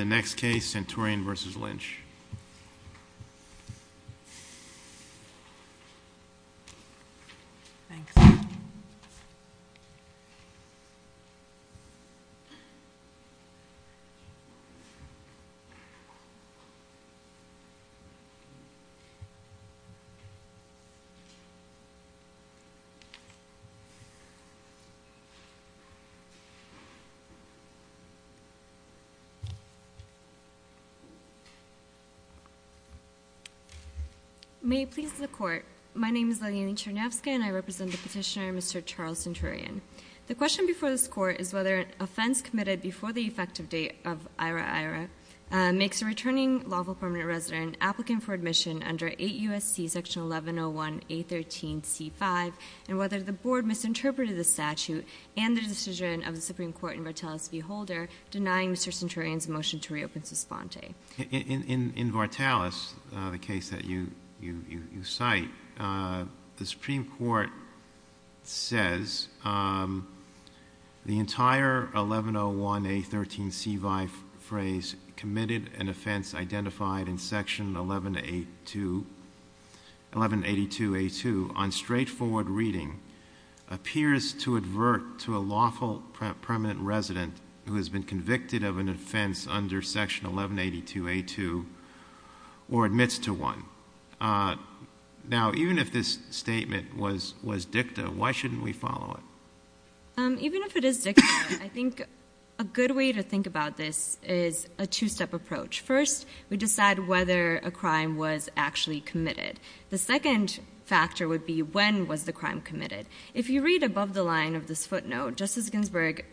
The next case, Centurion v. Lynch May it please the Court, my name is Liliana Chernovska and I represent the Petitioner, Mr. Charles Centurion. The question before this Court is whether an offense committed before the effective date of IHRA-IHRA makes a returning lawful permanent resident applicant for admission under 8 U.S.C. Section 1101A13C5 and whether the Board misinterpreted the statute and the decision of the Supreme Court in Vartalis v. Holder denying Mr. Centurion's motion to reopen Suspante. In Vartalis, the case that you cite, the Supreme Court says the entire 1101A13C5 phrase committed an offense identified in Section 1182A2 on straightforward reading appears to advert to a lawful permanent resident who has been convicted of an offense under Section 1182A2 or admits to one. Now even if this statement was dicta, why shouldn't we follow it? Even if it is dicta, I think a good way to think about this is a two-step approach. First we decide whether a crime was actually committed. The second factor would be when was the crime committed. If you read above the line of this footnote, Justice Ginsburg,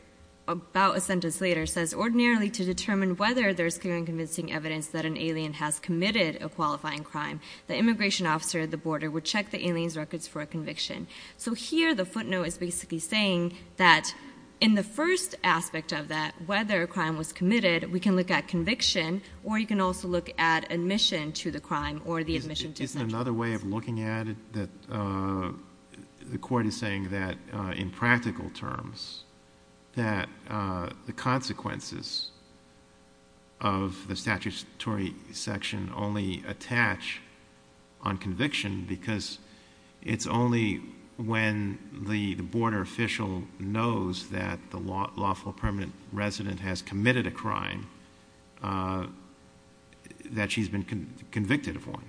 about a sentence later, says ordinarily to determine whether there is clear and convincing evidence that an alien has committed a qualifying crime, the immigration officer at the border would check the alien's records for a conviction. So here the footnote is basically saying that in the first aspect of that, whether a crime was committed, we can look at conviction or you can also look at admission to the crime or the admission to sentence. Another way of looking at it, the court is saying that in practical terms that the consequences of the statutory section only attach on conviction because it's only when the border official knows that the lawful permanent resident has committed a crime that she's been convicted of one.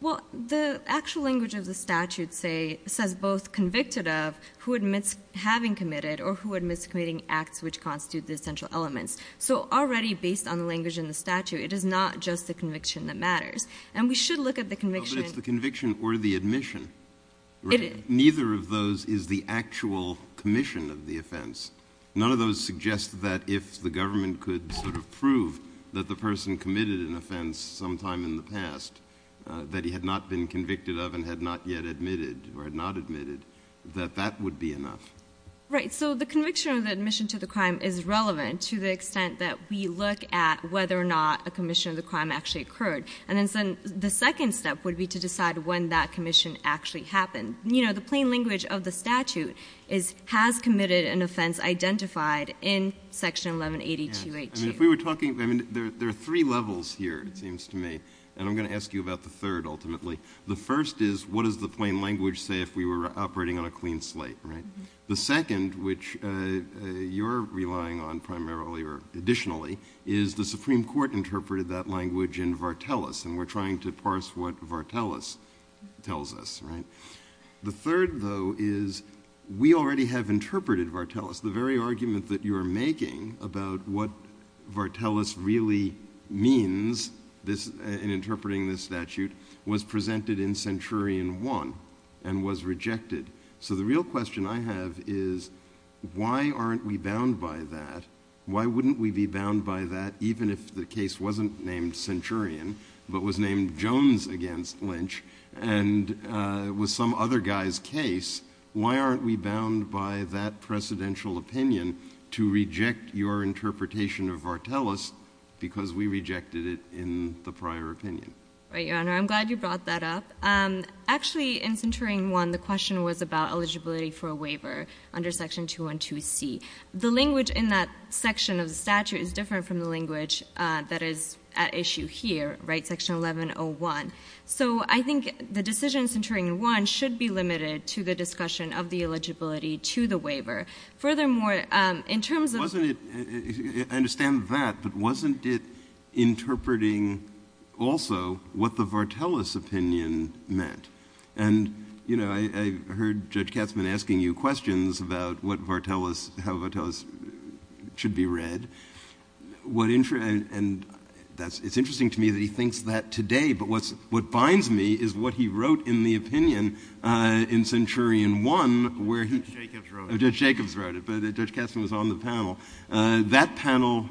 Well, the actual language of the statute says both convicted of who admits having committed or who admits committing acts which constitute the essential elements. So already based on the language in the statute, it is not just the conviction that matters. And we should look at the conviction. No, but it's the conviction or the admission. Neither of those is the actual commission of the offense. None of those suggest that if the government could sort of prove that the person committed an offense sometime in the past that he had not been convicted of and had not yet admitted or had not admitted, that that would be enough. Right. So the conviction or the admission to the crime is relevant to the extent that we look at whether or not a commission of the crime actually occurred. And then the second step would be to decide when that commission actually happened. You know, the plain language of the statute is has committed an offense identified in section 1180-282. I mean, if we were talking, I mean, there are three levels here, it seems to me. And I'm going to ask you about the third, ultimately. The first is what does the plain language say if we were operating on a clean slate, right? The second, which you're relying on primarily or additionally, is the Supreme Court interpreted that language in Vartelis, and we're trying to parse what Vartelis tells us, right? The third, though, is we already have interpreted Vartelis, the very argument that you're making about what Vartelis really means in interpreting this statute was presented in Centurion 1 and was rejected. So the real question I have is why aren't we bound by that? Why wouldn't we be bound by that even if the case wasn't named Centurion but was named Jones against Lynch and was some other guy's case? Why aren't we bound by that precedential opinion to reject your interpretation of Vartelis because we rejected it in the prior opinion? Right, Your Honor. I'm glad you brought that up. Actually, in Centurion 1, the question was about eligibility for a waiver under section 212C. The language in that section of the statute is different from the language that is at issue here, right, section 1101. So I think the decisions in Centurion 1 should be limited to the discussion of the eligibility to the waiver. Furthermore, in terms of— Wasn't it—I understand that, but wasn't it interpreting also what the Vartelis opinion meant? And, you know, I heard Judge Katzmann asking you questions about what Vartelis—how Vartelis should be read. And it's interesting to me that he thinks that today, but what binds me is what he wrote in the opinion in Centurion 1 where he— Judge Jacobs wrote it. Judge Jacobs wrote it, but Judge Katzmann was on the panel. That panel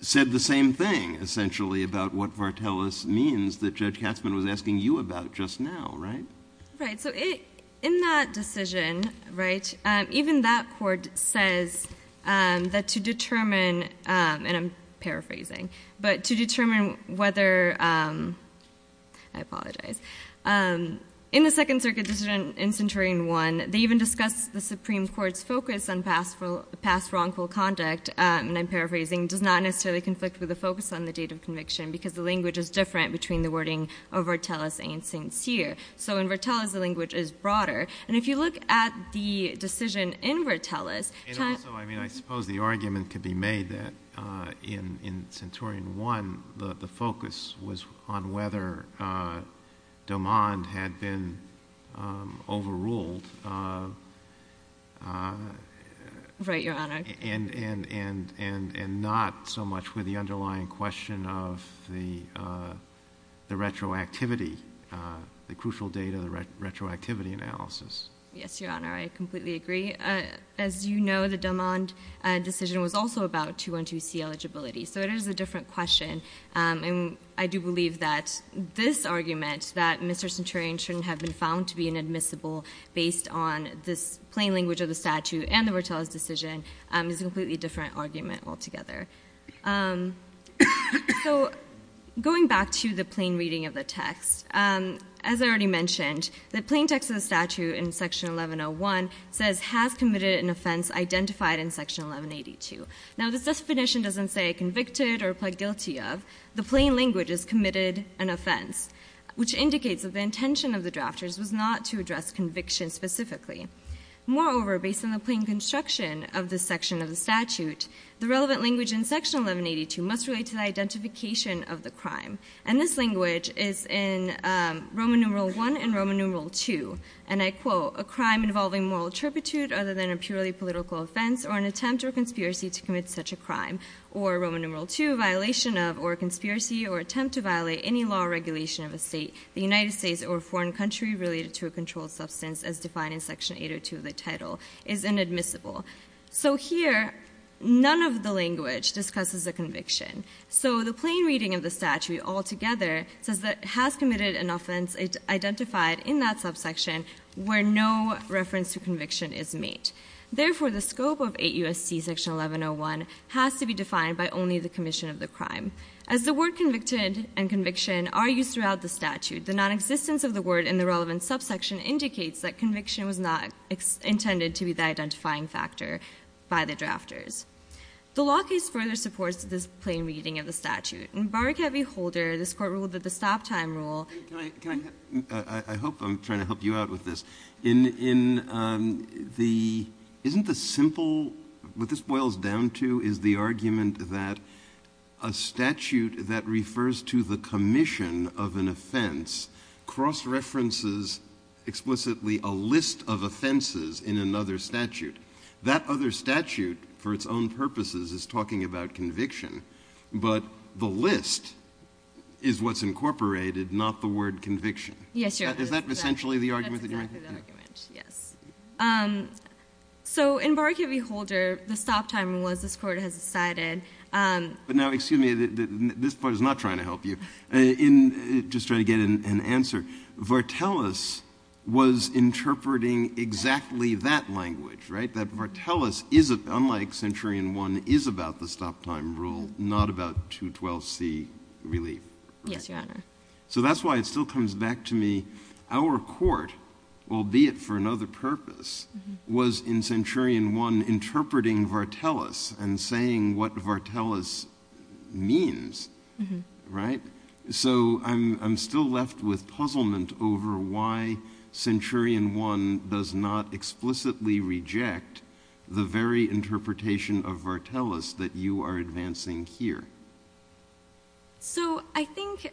said the same thing, essentially, about what Vartelis means that Judge Katzmann was asking you about just now, right? Right. So in that decision, right, even that court says that to determine—and I'm paraphrasing—but to determine whether—I apologize. In the Second Circuit decision in Centurion 1, they even discussed the Supreme Court's focus on past wrongful conduct, and I'm paraphrasing, does not necessarily conflict with the focus on the date of conviction because the language is different between the wording of Vartelis and Sincere. So in Vartelis, the language is broader. And if you look at the decision in Vartelis— And also, I mean, I suppose the argument could be made that in Centurion 1, the focus was on whether Domond had been overruled— Right, Your Honor. And not so much with the underlying question of the retroactivity, the crucial date of the retroactivity analysis. Yes, Your Honor, I completely agree. As you know, the Domond decision was also about 212C eligibility, so it is a different question. And I do believe that this argument, that Mr. Centurion shouldn't have been found to be based on this plain language of the statute and the Vartelis decision, is a completely different argument altogether. So going back to the plain reading of the text, as I already mentioned, the plain text of the statute in Section 1101 says, has committed an offense identified in Section 1182. Now this definition doesn't say convicted or pled guilty of. The plain language is committed an offense, which indicates that the intention of the Moreover, based on the plain construction of this section of the statute, the relevant language in Section 1182 must relate to the identification of the crime. And this language is in Roman numeral I and Roman numeral II. And I quote, A crime involving moral turpitude other than a purely political offense, or an attempt or conspiracy to commit such a crime, or Roman numeral II, a violation of, or a conspiracy or attempt to violate any law or regulation of a state, the United States, or a foreign country related to a controlled substance, as defined in Section 802 of the title, is inadmissible. So here, none of the language discusses a conviction. So the plain reading of the statute altogether says that it has committed an offense identified in that subsection where no reference to conviction is made. Therefore the scope of 8 U.S.C. Section 1101 has to be defined by only the commission of the crime. As the word convicted and conviction are used throughout the statute, the nonexistence of the word in the relevant subsection indicates that conviction was not intended to be the identifying factor by the drafters. The law case further supports this plain reading of the statute. In Barrick Heavy Holder, this court ruled that the stop time rule Can I, can I, I hope I'm trying to help you out with this. In, in the, isn't the simple, what this boils down to is the argument that a statute that explicitly a list of offenses in another statute. That other statute, for its own purposes, is talking about conviction. But the list is what's incorporated, not the word conviction. Yes, Your Honor. Is that essentially the argument that you're making? That's exactly the argument, yes. So in Barrick Heavy Holder, the stop time rule as this court has decided But now, excuse me, this part is not trying to help you. In, just trying to get an answer, Vartelis was interpreting exactly that language, right? That Vartelis is, unlike Centurion 1, is about the stop time rule, not about 212c relief. Yes, Your Honor. So that's why it still comes back to me, our court, albeit for another purpose, was in So I'm, I'm still left with puzzlement over why Centurion 1 does not explicitly reject the very interpretation of Vartelis that you are advancing here. So I think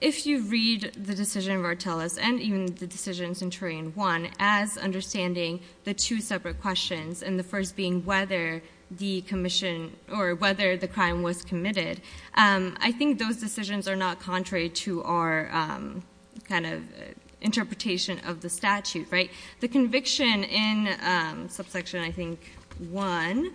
if you read the decision of Vartelis, and even the decision of Centurion 1, as understanding the two separate questions, and the first being whether the commission, or whether the contrary to our kind of interpretation of the statute, right? The conviction in subsection, I think, 1,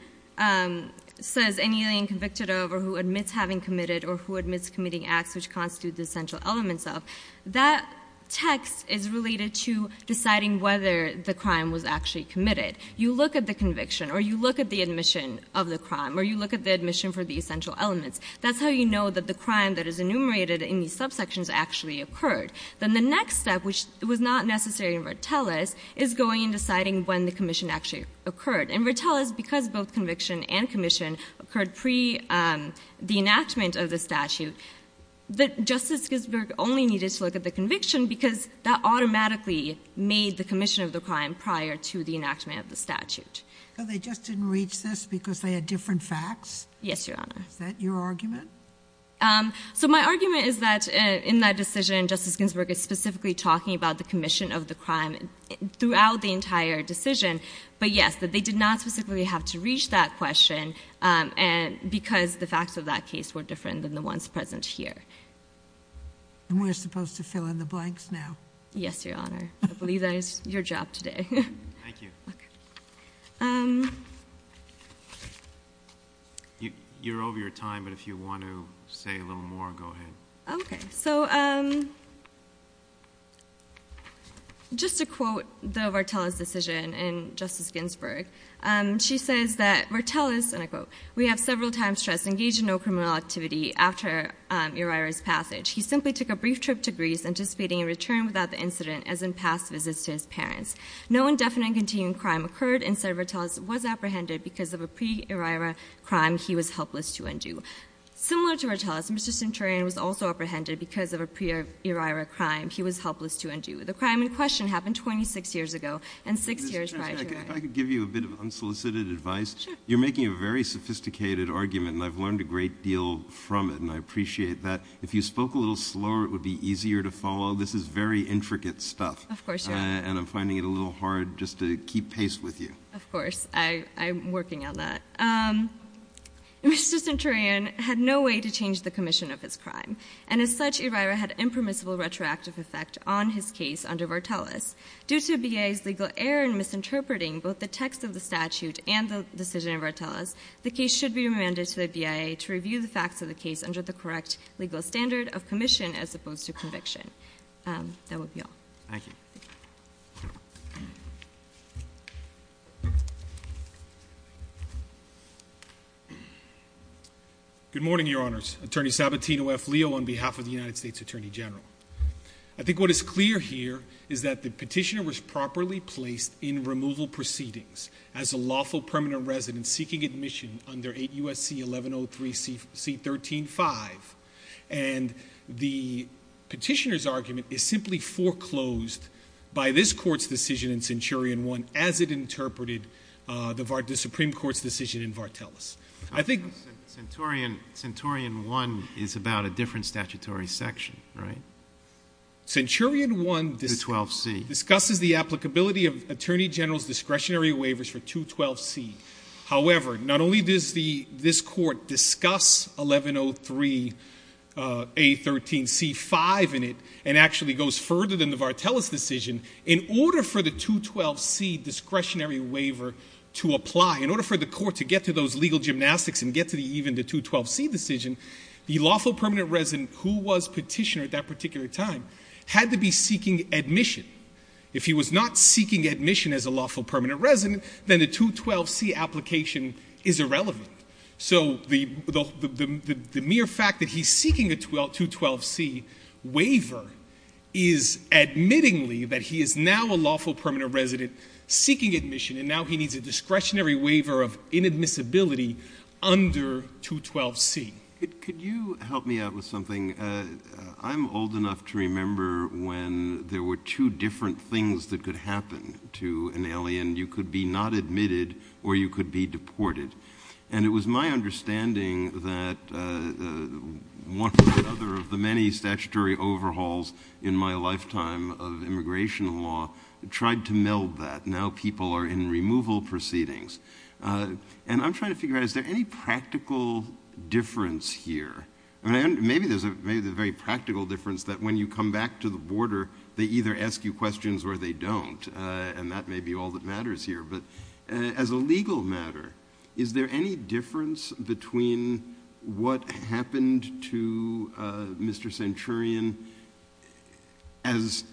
says anything convicted of, or who admits having committed, or who admits committing acts which constitute the essential elements of. That text is related to deciding whether the crime was actually committed. You look at the conviction, or you look at the admission of the crime, or you look at the admission for the essential elements. That's how you know that the crime that is enumerated in these subsections actually occurred. Then the next step, which was not necessary in Vartelis, is going and deciding when the commission actually occurred. In Vartelis, because both conviction and commission occurred pre-the enactment of the statute, Justice Ginsburg only needed to look at the conviction because that automatically made the commission of the crime prior to the enactment of the statute. So they just didn't reach this because they had different facts? Yes, Your Honor. Is that your argument? So my argument is that, in that decision, Justice Ginsburg is specifically talking about the commission of the crime throughout the entire decision, but yes, that they did not specifically have to reach that question because the facts of that case were different than the ones present here. And we're supposed to fill in the blanks now? Yes, Your Honor. I believe that is your job today. Thank you. You're over your time, but if you want to say a little more, go ahead. Okay. So just to quote the Vartelis decision in Justice Ginsburg, she says that Vartelis, and I quote, we have several times stressed, engaged in no criminal activity after Uriah's passage. He simply took a brief trip to Greece, anticipating a return without the incident as in past visits to his parents. No indefinite and continuing crime occurred, and Senator Vartelis was apprehended because of a pre-Uriah crime he was helpless to undo. Similar to Vartelis, Mr. Centurion was also apprehended because of a pre-Uriah crime he was helpless to undo. The crime in question happened 26 years ago, and six years prior to that. If I could give you a bit of unsolicited advice. Sure. You're making a very sophisticated argument, and I've learned a great deal from it, and I appreciate that. If you spoke a little slower, it would be easier to follow. This is very intricate stuff. Of course, Your Honor. And I'm finding it a little hard just to keep pace with you. Of course. I'm working on that. Mr. Centurion had no way to change the commission of his crime, and as such, Uriah had impermissible retroactive effect on his case under Vartelis. Due to BIA's legal error in misinterpreting both the text of the statute and the decision of Vartelis, the case should be remanded to the BIA to review the facts of the case under the correct legal standard of commission as opposed to conviction. That would be all. Thank you. Good morning, Your Honors. Attorney Sabatino F. Leo on behalf of the United States Attorney General. I think what is clear here is that the petitioner was properly placed in removal proceedings as a lawful permanent resident seeking admission under 8 U.S.C. 1103 C.13.5, and the petitioner's case was foreclosed by this Court's decision in Centurion 1 as it interpreted the Supreme Court's decision in Vartelis. I think Centurion 1 is about a different statutory section, right? Centurion 1 discusses the applicability of Attorney General's discretionary waivers for 212 C. However, not only does this Court discuss 1103 A.13.C. 5 in it and actually goes further than the Vartelis decision, in order for the 212 C. discretionary waiver to apply, in order for the Court to get to those legal gymnastics and get to even the 212 C. decision, the lawful permanent resident who was petitioner at that particular time had to be seeking admission. If he was not seeking admission as a lawful permanent resident, then the 212 C. application is irrelevant. So the mere fact that he's seeking a 212 C. waiver is admittingly that he is now a lawful permanent resident seeking admission, and now he needs a discretionary waiver of inadmissibility under 212 C. Could you help me out with something? I'm old enough to remember when there were two different things that could happen to an alien. You could be not admitted or you could be deported. And it was my understanding that one or the other of the many statutory overhauls in my lifetime of immigration law tried to meld that. Now people are in removal proceedings. And I'm trying to figure out, is there any practical difference here? Maybe there's a very practical difference that when you come back to the border, they either ask you questions or they don't, and that may be all that matters here. But as a legal matter, is there any difference between what happened to Mr. Centurion as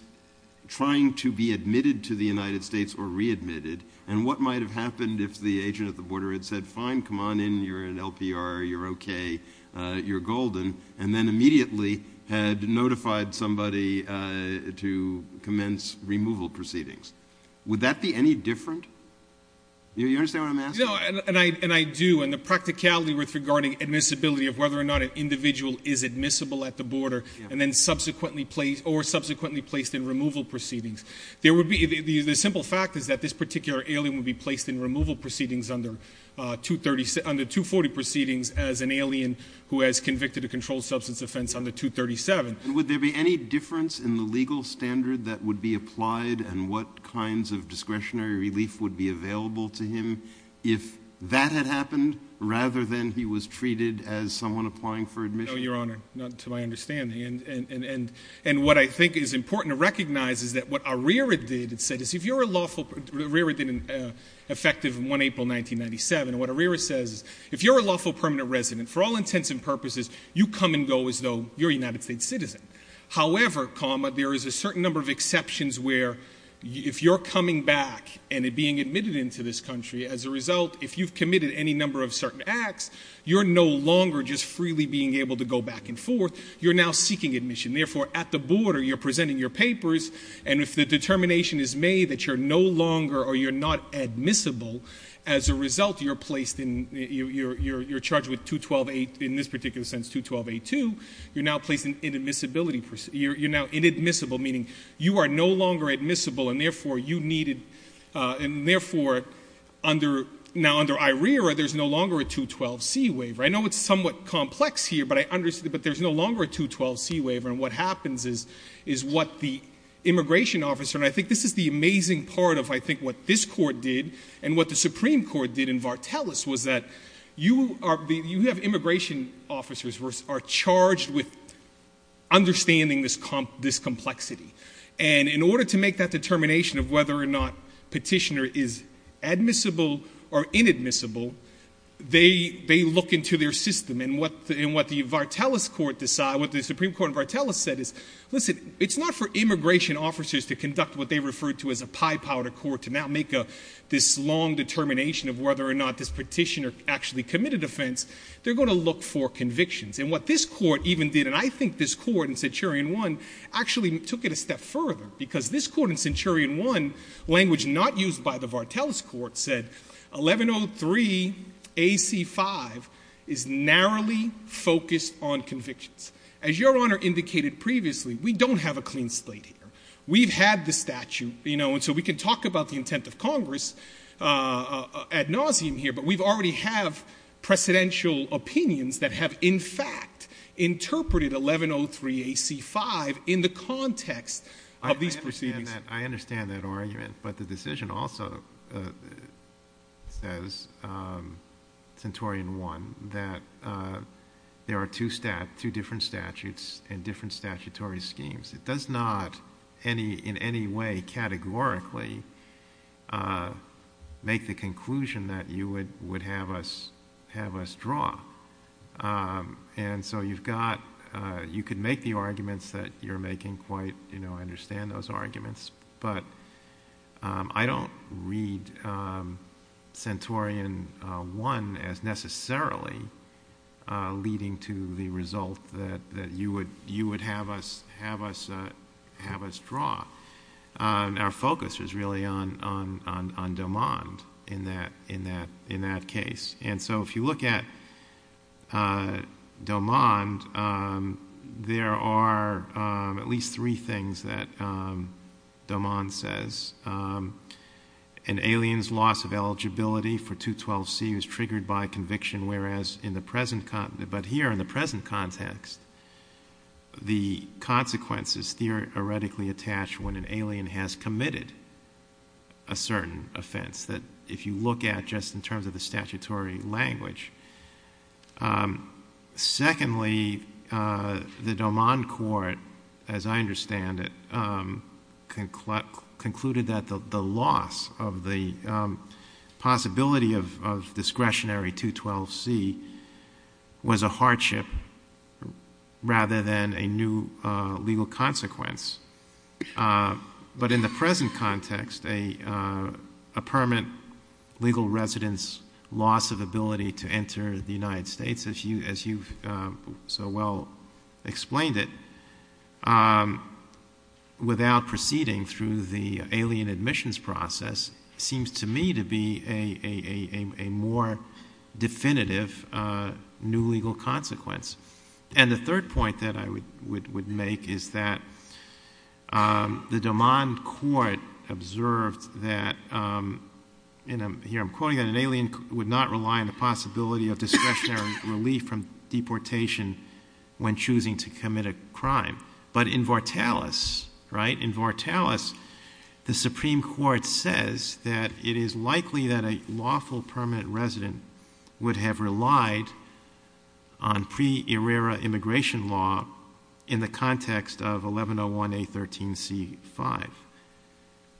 trying to be admitted to the United States or readmitted, and what might have happened if the agent at the border had said, fine, come on in, you're an LPR, you're okay, you're immediately had notified somebody to commence removal proceedings? Would that be any different? Do you understand what I'm asking? And I do. And the practicality with regarding admissibility of whether or not an individual is admissible at the border, and then subsequently placed, or subsequently placed in removal proceedings. There would be, the simple fact is that this particular alien would be placed in removal proceedings under 230, under 240 proceedings as an alien who has convicted a controlled substance offense under 237. Would there be any difference in the legal standard that would be applied, and what kinds of discretionary relief would be available to him if that had happened, rather than he was treated as someone applying for admission? No, Your Honor. Not to my understanding. And what I think is important to recognize is that what Arrera did, it said, is if you're a lawful, Arrera did an effective in 1 April 1997, and what Arrera says is, if you're a However, comma, there is a certain number of exceptions where, if you're coming back and being admitted into this country, as a result, if you've committed any number of certain acts, you're no longer just freely being able to go back and forth, you're now seeking admission. Therefore, at the border, you're presenting your papers, and if the determination is made that you're no longer, or you're not admissible, as a result, you're placed in, you're charged with 212-8, in this particular sense, 212-82, you're now placed in admissibility, you're now inadmissible, meaning you are no longer admissible, and therefore, you needed, and therefore, under, now under Arrera, there's no longer a 212-C waiver. I know it's somewhat complex here, but I understand, but there's no longer a 212-C waiver, and what happens is, is what the immigration officer, and I think this is the amazing part of, I think, Vartelis, was that you are, you have immigration officers who are charged with understanding this complexity, and in order to make that determination of whether or not petitioner is admissible or inadmissible, they look into their system, and what the Vartelis court, what the Supreme Court of Vartelis said is, listen, it's not for immigration officers to conduct what they refer to as a pie powder court, to now make this long determination of whether or not this petitioner actually committed offense, they're going to look for convictions, and what this court even did, and I think this court in Centurion I actually took it a step further, because this court in Centurion I, language not used by the Vartelis court, said 1103 AC5 is narrowly focused on convictions. As Your Honor indicated previously, we don't have a clean slate here. We've had the statute, you know, and so we can talk about the intent of Congress ad nauseam here, but we already have precedential opinions that have, in fact, interpreted 1103 AC5 in the context of these proceedings. I understand that argument, but the decision also says, Centurion I, that there are two different statutes and different statutory schemes. It does not in any way categorically make the conclusion that you would have us draw, and so you've got, you could make the arguments that you're making quite, you know, I understand those arguments, but I don't read Centurion I as necessarily leading to the result that you would have us draw. Our focus is really on Domond in that case, and so if you look at Domond, there are at least two cases, Domond says, an alien's loss of eligibility for 212C was triggered by conviction, whereas in the present, but here in the present context, the consequences theoretically attach when an alien has committed a certain offense that if you look at just in terms of the statutory language. Secondly, the Domond court, as I understand it, concluded that the loss of the possibility of discretionary 212C was a hardship rather than a new legal consequence, but in the present context, a permanent legal resident's loss of ability to enter the United States, as you've so well explained it, without proceeding through the alien admissions process, seems to me to be a more definitive new legal consequence, and the third point that I would make is that the Domond court observed that, and here I'm quoting, an alien would not rely on the possibility of discretionary relief from deportation when choosing to commit a crime, but in Vartalus, in Vartalus, the Supreme Court says that it is likely that a lawful permanent resident would have relied on pre-error immigration law in the context of 1101A13C5.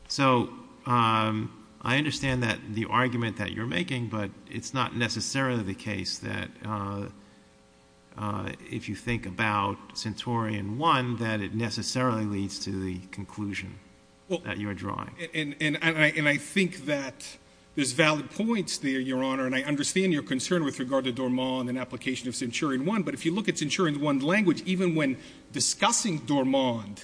So I understand that the argument that you're making, but it's not necessarily the case that if you think about Centurion I, that it necessarily leads to the conclusion that you're drawing. And I think that there's valid points there, Your Honor, and I understand your concern with regard to Domond and application of Centurion I, but if you look at Centurion I's language, even when discussing Domond,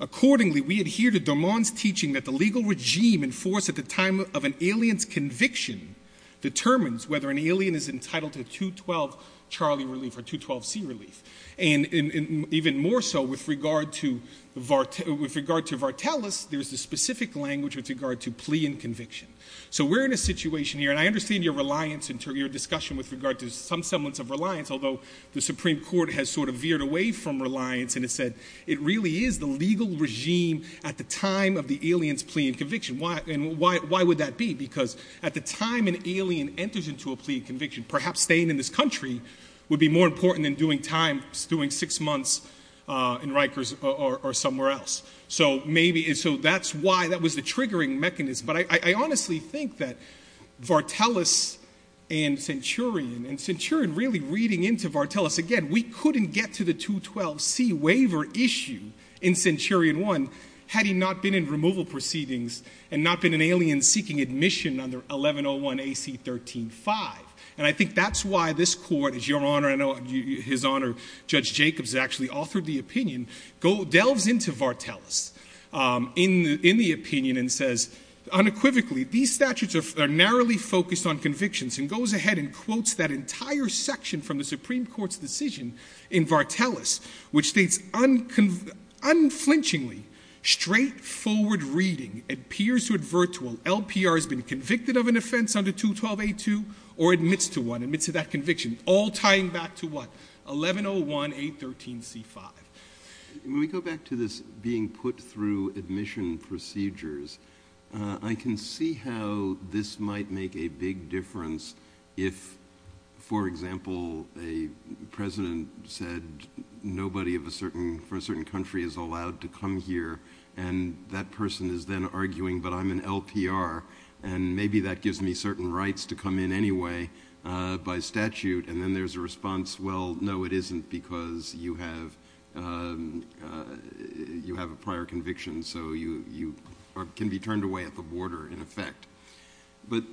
accordingly, we adhere to Domond's teaching that the legal regime enforced at the time of an alien's conviction determines whether an alien is entitled to 212 Charlie relief or 212C relief, and even more so with regard to Vartalus, there's a specific language with regard to plea and conviction. So we're in a situation here, and I understand your reliance and your discussion with regard to some semblance of reliance, although the Supreme Court has sort of veered away from reliance and has said it really is the legal regime at the time of the alien's plea and conviction, and why would that be? Because at the time an alien enters into a plea and conviction, perhaps staying in this country would be more important than doing time, doing six months in Rikers or somewhere else. So maybe, so that's why, that was the triggering mechanism. But I honestly think that Vartalus and Centurion, and Centurion really reading into Vartalus, again, we couldn't get to the 212C waiver issue in Centurion I had he not been in removal proceedings and not been an alien seeking admission under 1101 AC 13-5. And I think that's why this Court, as Your Honor, I know His Honor Judge Jacobs actually authored the opinion, delves into Vartalus in the opinion and says unequivocally these statutes are narrowly focused on convictions and goes ahead and quotes that entire section from the Supreme Court's decision in Vartalus, which states unflinchingly straightforward reading appears to advert to an LPR has been convicted of an offense under 212A2 or admits to one, admits to that conviction, all tying back to what? 1101 A13C-5. When we go back to this being put through admission procedures, I can see how this might make a big difference if, for example, a president said nobody of a certain, for a certain country is allowed to come here and that person is then arguing but I'm an LPR and maybe that by statute and then there's a response, well, no, it isn't because you have a prior conviction so you can be turned away at the border in effect. But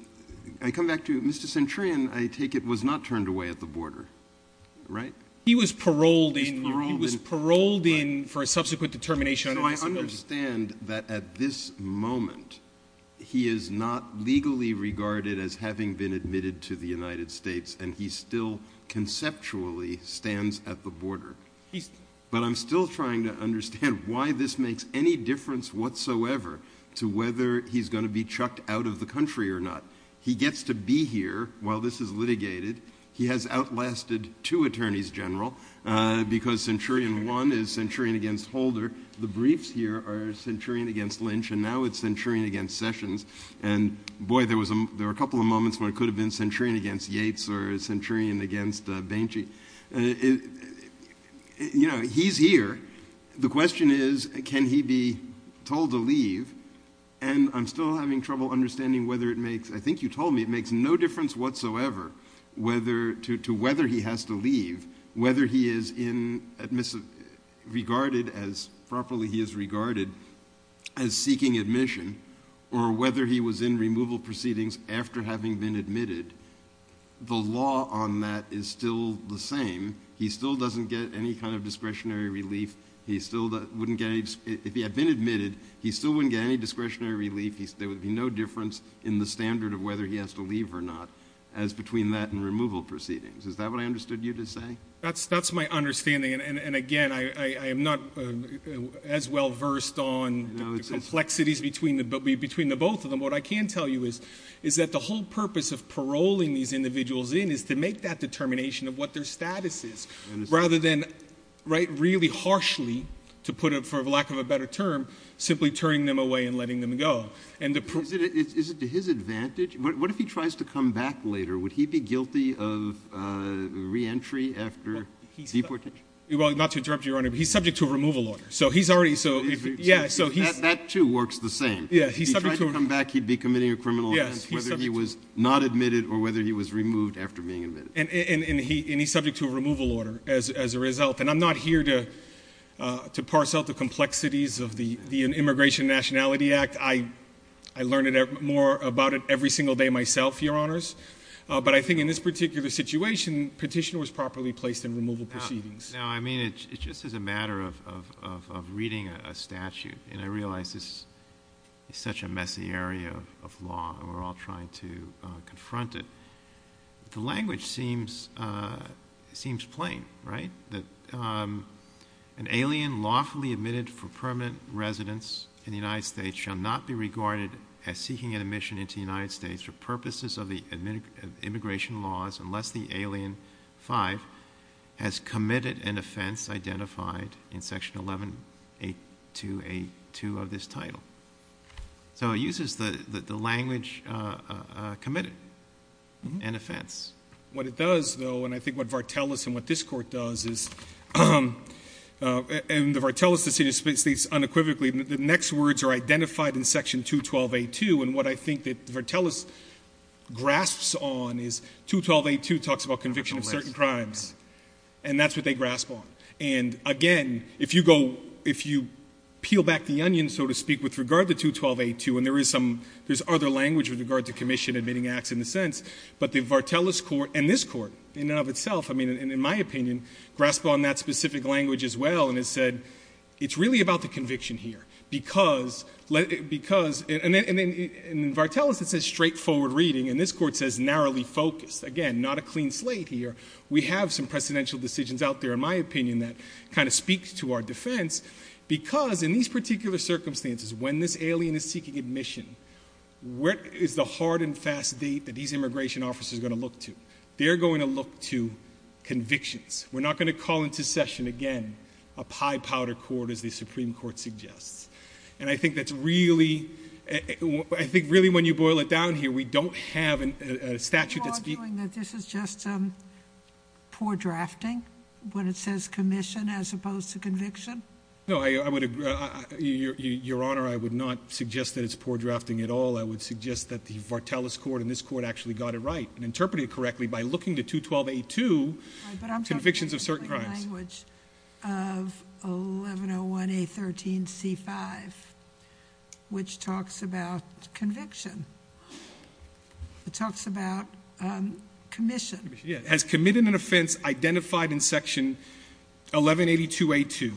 I come back to Mr. Centurion, I take it was not turned away at the border, right? He was paroled in. He was paroled in for a subsequent determination. So I understand that at this moment he is not legally regarded as having been admitted to the United States and he still conceptually stands at the border but I'm still trying to understand why this makes any difference whatsoever to whether he's going to be chucked out of the country or not. He gets to be here while this is litigated. He has outlasted two attorneys general because Centurion 1 is Centurion against Holder. The briefs here are Centurion against Lynch and now it's Centurion against Sessions and boy, there were a couple of moments when it could have been Centurion against Yates or Centurion against Bainchi. You know, he's here. The question is, can he be told to leave? And I'm still having trouble understanding whether it makes, I think you told me, it makes no difference whatsoever to whether he has to leave, whether he is regarded as properly, he is regarded as seeking admission or whether he was in removal proceedings after having been admitted. The law on that is still the same. He still doesn't get any kind of discretionary relief. He still wouldn't get any, if he had been admitted, he still wouldn't get any discretionary relief. There would be no difference in the standard of whether he has to leave or not as between that and removal proceedings. Is that what I understood you to say? That's, that's my understanding. And again, I am not as well versed on the complexities between the, between the both of them. What I can tell you is, is that the whole purpose of paroling these individuals in is to make that determination of what their status is rather than right, really harshly to put it for lack of a better term, simply turning them away and letting them go. And is it to his advantage? What if he tries to come back later? Would he be guilty of a re-entry after deportation? Well, not to interrupt your honor, but he's subject to a removal order. So he's already, so yeah, so he's. That too works the same. Yeah. If he tried to come back, he'd be committing a criminal offense, whether he was not admitted or whether he was removed after being admitted. And, and, and he, and he's subject to a removal order as, as a result. And I'm not here to, uh, to parse out the complexities of the, the immigration nationality act. I, I learned more about it every single day myself, your honors. But I think in this particular situation, petitioner was properly placed in removal proceedings. Now, I mean, it's just as a matter of, of, of, of reading a statute. And I realized this is such a messy area of law and we're all trying to confront it. The language seems, uh, seems plain, right? That, um, an alien lawfully admitted for permanent residence in the United States shall not be unless the alien five has committed an offense identified in section 1182A2 of this title. So it uses the, the, the language, uh, uh, uh, committed an offense. Mm-hmm. What it does though, and I think what Vartelis and what this court does is, um, uh, and the Vartelis decision speaks unequivocally, the next words are identified in section 212A2. And what I think that Vartelis grasps on is 212A2 talks about conviction of certain crimes. And that's what they grasp on. And again, if you go, if you peel back the onion, so to speak, with regard to 212A2, and there is some, there's other language with regard to commission admitting acts in the sense, but the Vartelis court and this court in and of itself, I mean, in my opinion, grasp on that specific language as well. It's really about the conviction here because, because, and then, and then in Vartelis, it says straightforward reading and this court says narrowly focused. Again, not a clean slate here. We have some precedential decisions out there in my opinion that kind of speaks to our defense because in these particular circumstances, when this alien is seeking admission, what is the hard and fast date that these immigration officers are going to look to? They're going to look to convictions. We're not going to call into session, again, a pie powder court as the Supreme Court suggests. And I think that's really, I think really when you boil it down here, we don't have a statute. Are you arguing that this is just poor drafting when it says commission as opposed to conviction? No, I would, Your Honor, I would not suggest that it's poor drafting at all. I would suggest that the Vartelis court and this court actually got it right and interpreted it correctly by looking to 212A2, convictions of certain crimes. But I'm talking about the plain language of 1101A13C5, which talks about conviction. It talks about commission. Yeah, has committed an offense identified in section 1182A2.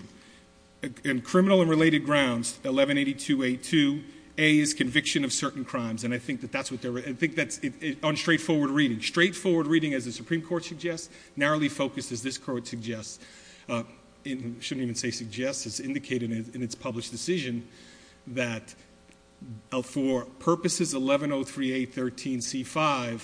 In criminal and related grounds, 1182A2, A is conviction of certain crimes. And I think that's what they're, I think that's on straightforward reading. Straightforward reading as the Supreme Court suggests, narrowly focused as this court suggests, and shouldn't even say suggests, it's indicated in its published decision that for purposes 1103A13C5,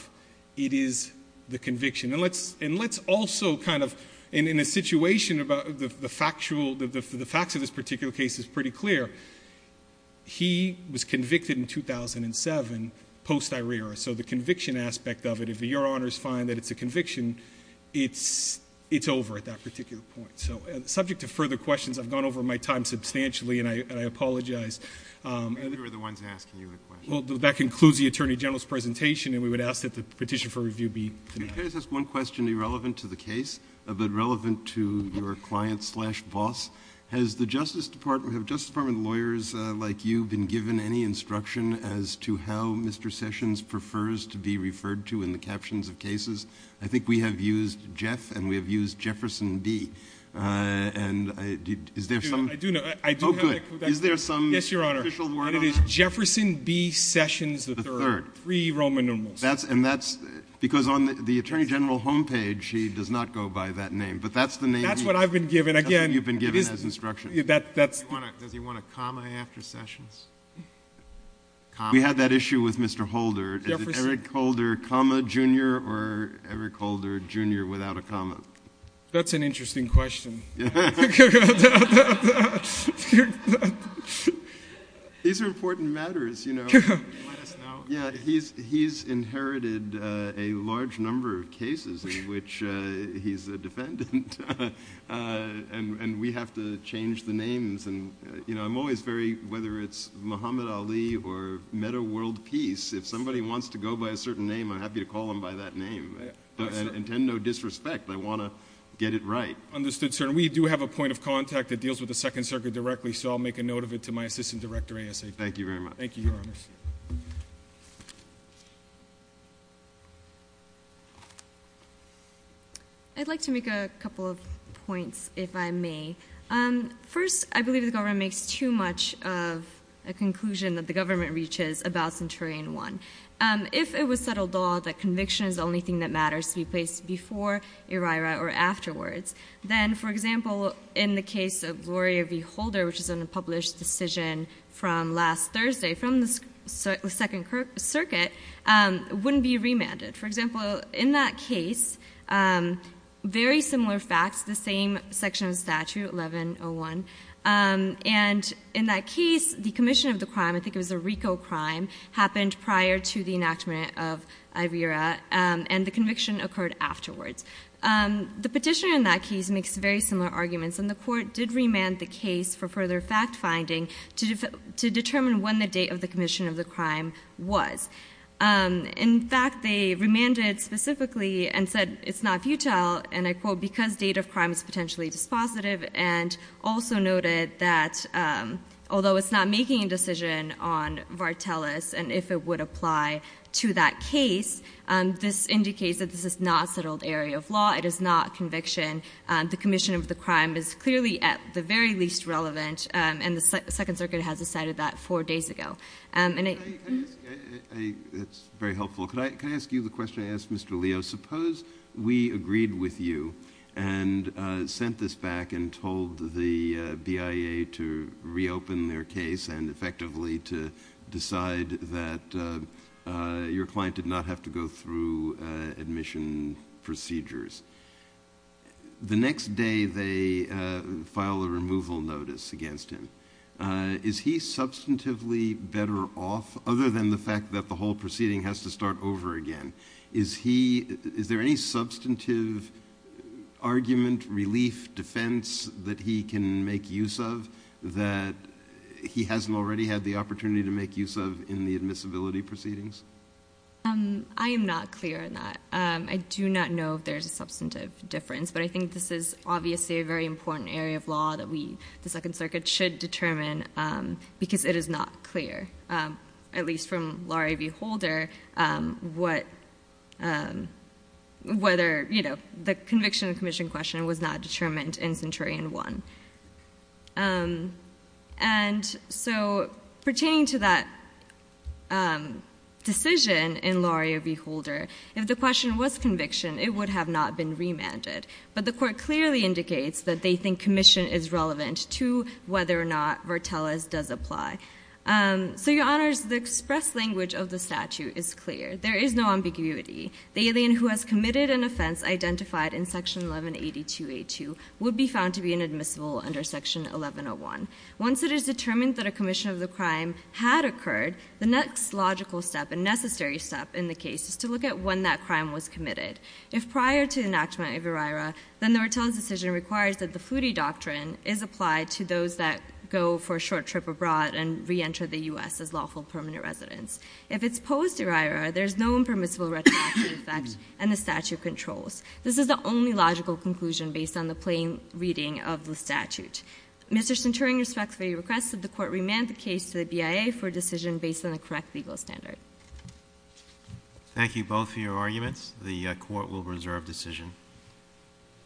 it is the conviction. And let's also kind of, in a situation about the factual, the facts of this particular case is pretty clear. He was convicted in 2007, post-Irera. So the conviction aspect of it, if Your Honor's find that it's a conviction, it's over at that particular point. So subject to further questions, I've gone over my time substantially and I apologize. And we were the ones asking you a question. Well, that concludes the Attorney General's presentation. And we would ask that the petition for review be finished. Can I just ask one question irrelevant to the case, but relevant to your client slash boss? Has the Justice Department, have Justice Department lawyers like you been given any instruction as to how Mr. Sessions prefers to be referred to in the captions of cases? I think we have used Jeff and we have used Jefferson B. And is there some? I do know. Oh good. Is there some official word on that? Yes, Your Honor. And it is Jefferson B. Sessions III. The third. Three Roman numerals. That's, and that's because on the Attorney General homepage, he does not go by that name. But that's the name. That's what I've been given. You've been given as instruction. Does he want a comma after Sessions? We had that issue with Mr. Holder. Is it Eric Holder comma junior or Eric Holder junior without a comma? That's an interesting question. These are important matters, you know. Yeah, he's inherited a large number of cases in which he's a defendant. And we have to change the names. And, you know, I'm always very, whether it's Muhammad Ali or Meadoworld Peace, if somebody wants to go by a certain name, I'm happy to call them by that name. And intend no disrespect. I want to get it right. Understood, sir. And we do have a point of contact that deals with the Second Circuit directly. So I'll make a note of it to my assistant director ASA. Thank you very much. Thank you, Your Honor. I'd like to make a couple of points, if I may. First, I believe the government makes too much of a conclusion that the government reaches about Centurion 1. If it was settled all that conviction is the only thing that matters to be placed before ERIRA or afterwards, then, for example, in the case of Gloria v. Holder, which is a published decision from last Thursday from the Second Circuit, wouldn't be remanded. For example, in that case, very similar facts, the same section of statute, 1101. And in that case, the commission of the crime, I think it was a RICO crime, happened prior to the enactment of ERIRA. And the conviction occurred afterwards. The petitioner in that case makes very similar arguments. And the court did remand the case for further fact-finding to determine when the date of the commission of the crime was. In fact, they remanded specifically and said, it's not futile, and I quote, because date of crime is potentially dispositive. And also noted that although it's not making a decision on Vartelis and if it would apply to that case, this indicates that this is not a settled area of law. It is not conviction. The commission of the crime is clearly at the very least relevant. And the Second Circuit has decided that four days ago. It's very helpful. Can I ask you the question I asked Mr. Leo? Suppose we agreed with you and sent this back and told the BIA to reopen their case and effectively to decide that your client did not have to go through admission procedures. The next day they file a removal notice against him. Is he substantively better off, other than the fact that the whole proceeding has to start over again? Is there any substantive argument, relief, defense that he can make use of that he hasn't already had the opportunity to make use of in the admissibility proceedings? I am not clear on that. I do not know if there's a substantive difference. I think this is obviously a very important area of law that the Second Circuit should determine because it is not clear, at least from Laurier v. Holder, whether the conviction commission question was not determined in Centurion 1. And so pertaining to that decision in Laurier v. Holder, if the question was conviction, it would have not been remanded. But the court clearly indicates that they think commission is relevant to whether or not Vertelez does apply. So, Your Honors, the express language of the statute is clear. There is no ambiguity. The alien who has committed an offense identified in Section 1182A2 would be found to be inadmissible under Section 1101. Once it is determined that a commission of the crime had occurred, the next logical step and necessary step in the case is to look at when that crime was committed. If prior to the enactment of ERIRA, then the Vertelez decision requires that the foodie doctrine is applied to those that go for a short trip abroad and reenter the U.S. as lawful permanent residents. If it's post-ERIRA, there's no impermissible retroactive effect, and the statute controls. This is the only logical conclusion based on the plain reading of the statute. Mr. Centurion respectfully requests that the court remand the case to the BIA for a decision based on the correct legal standard. Thank you both for your arguments. The court will reserve decision.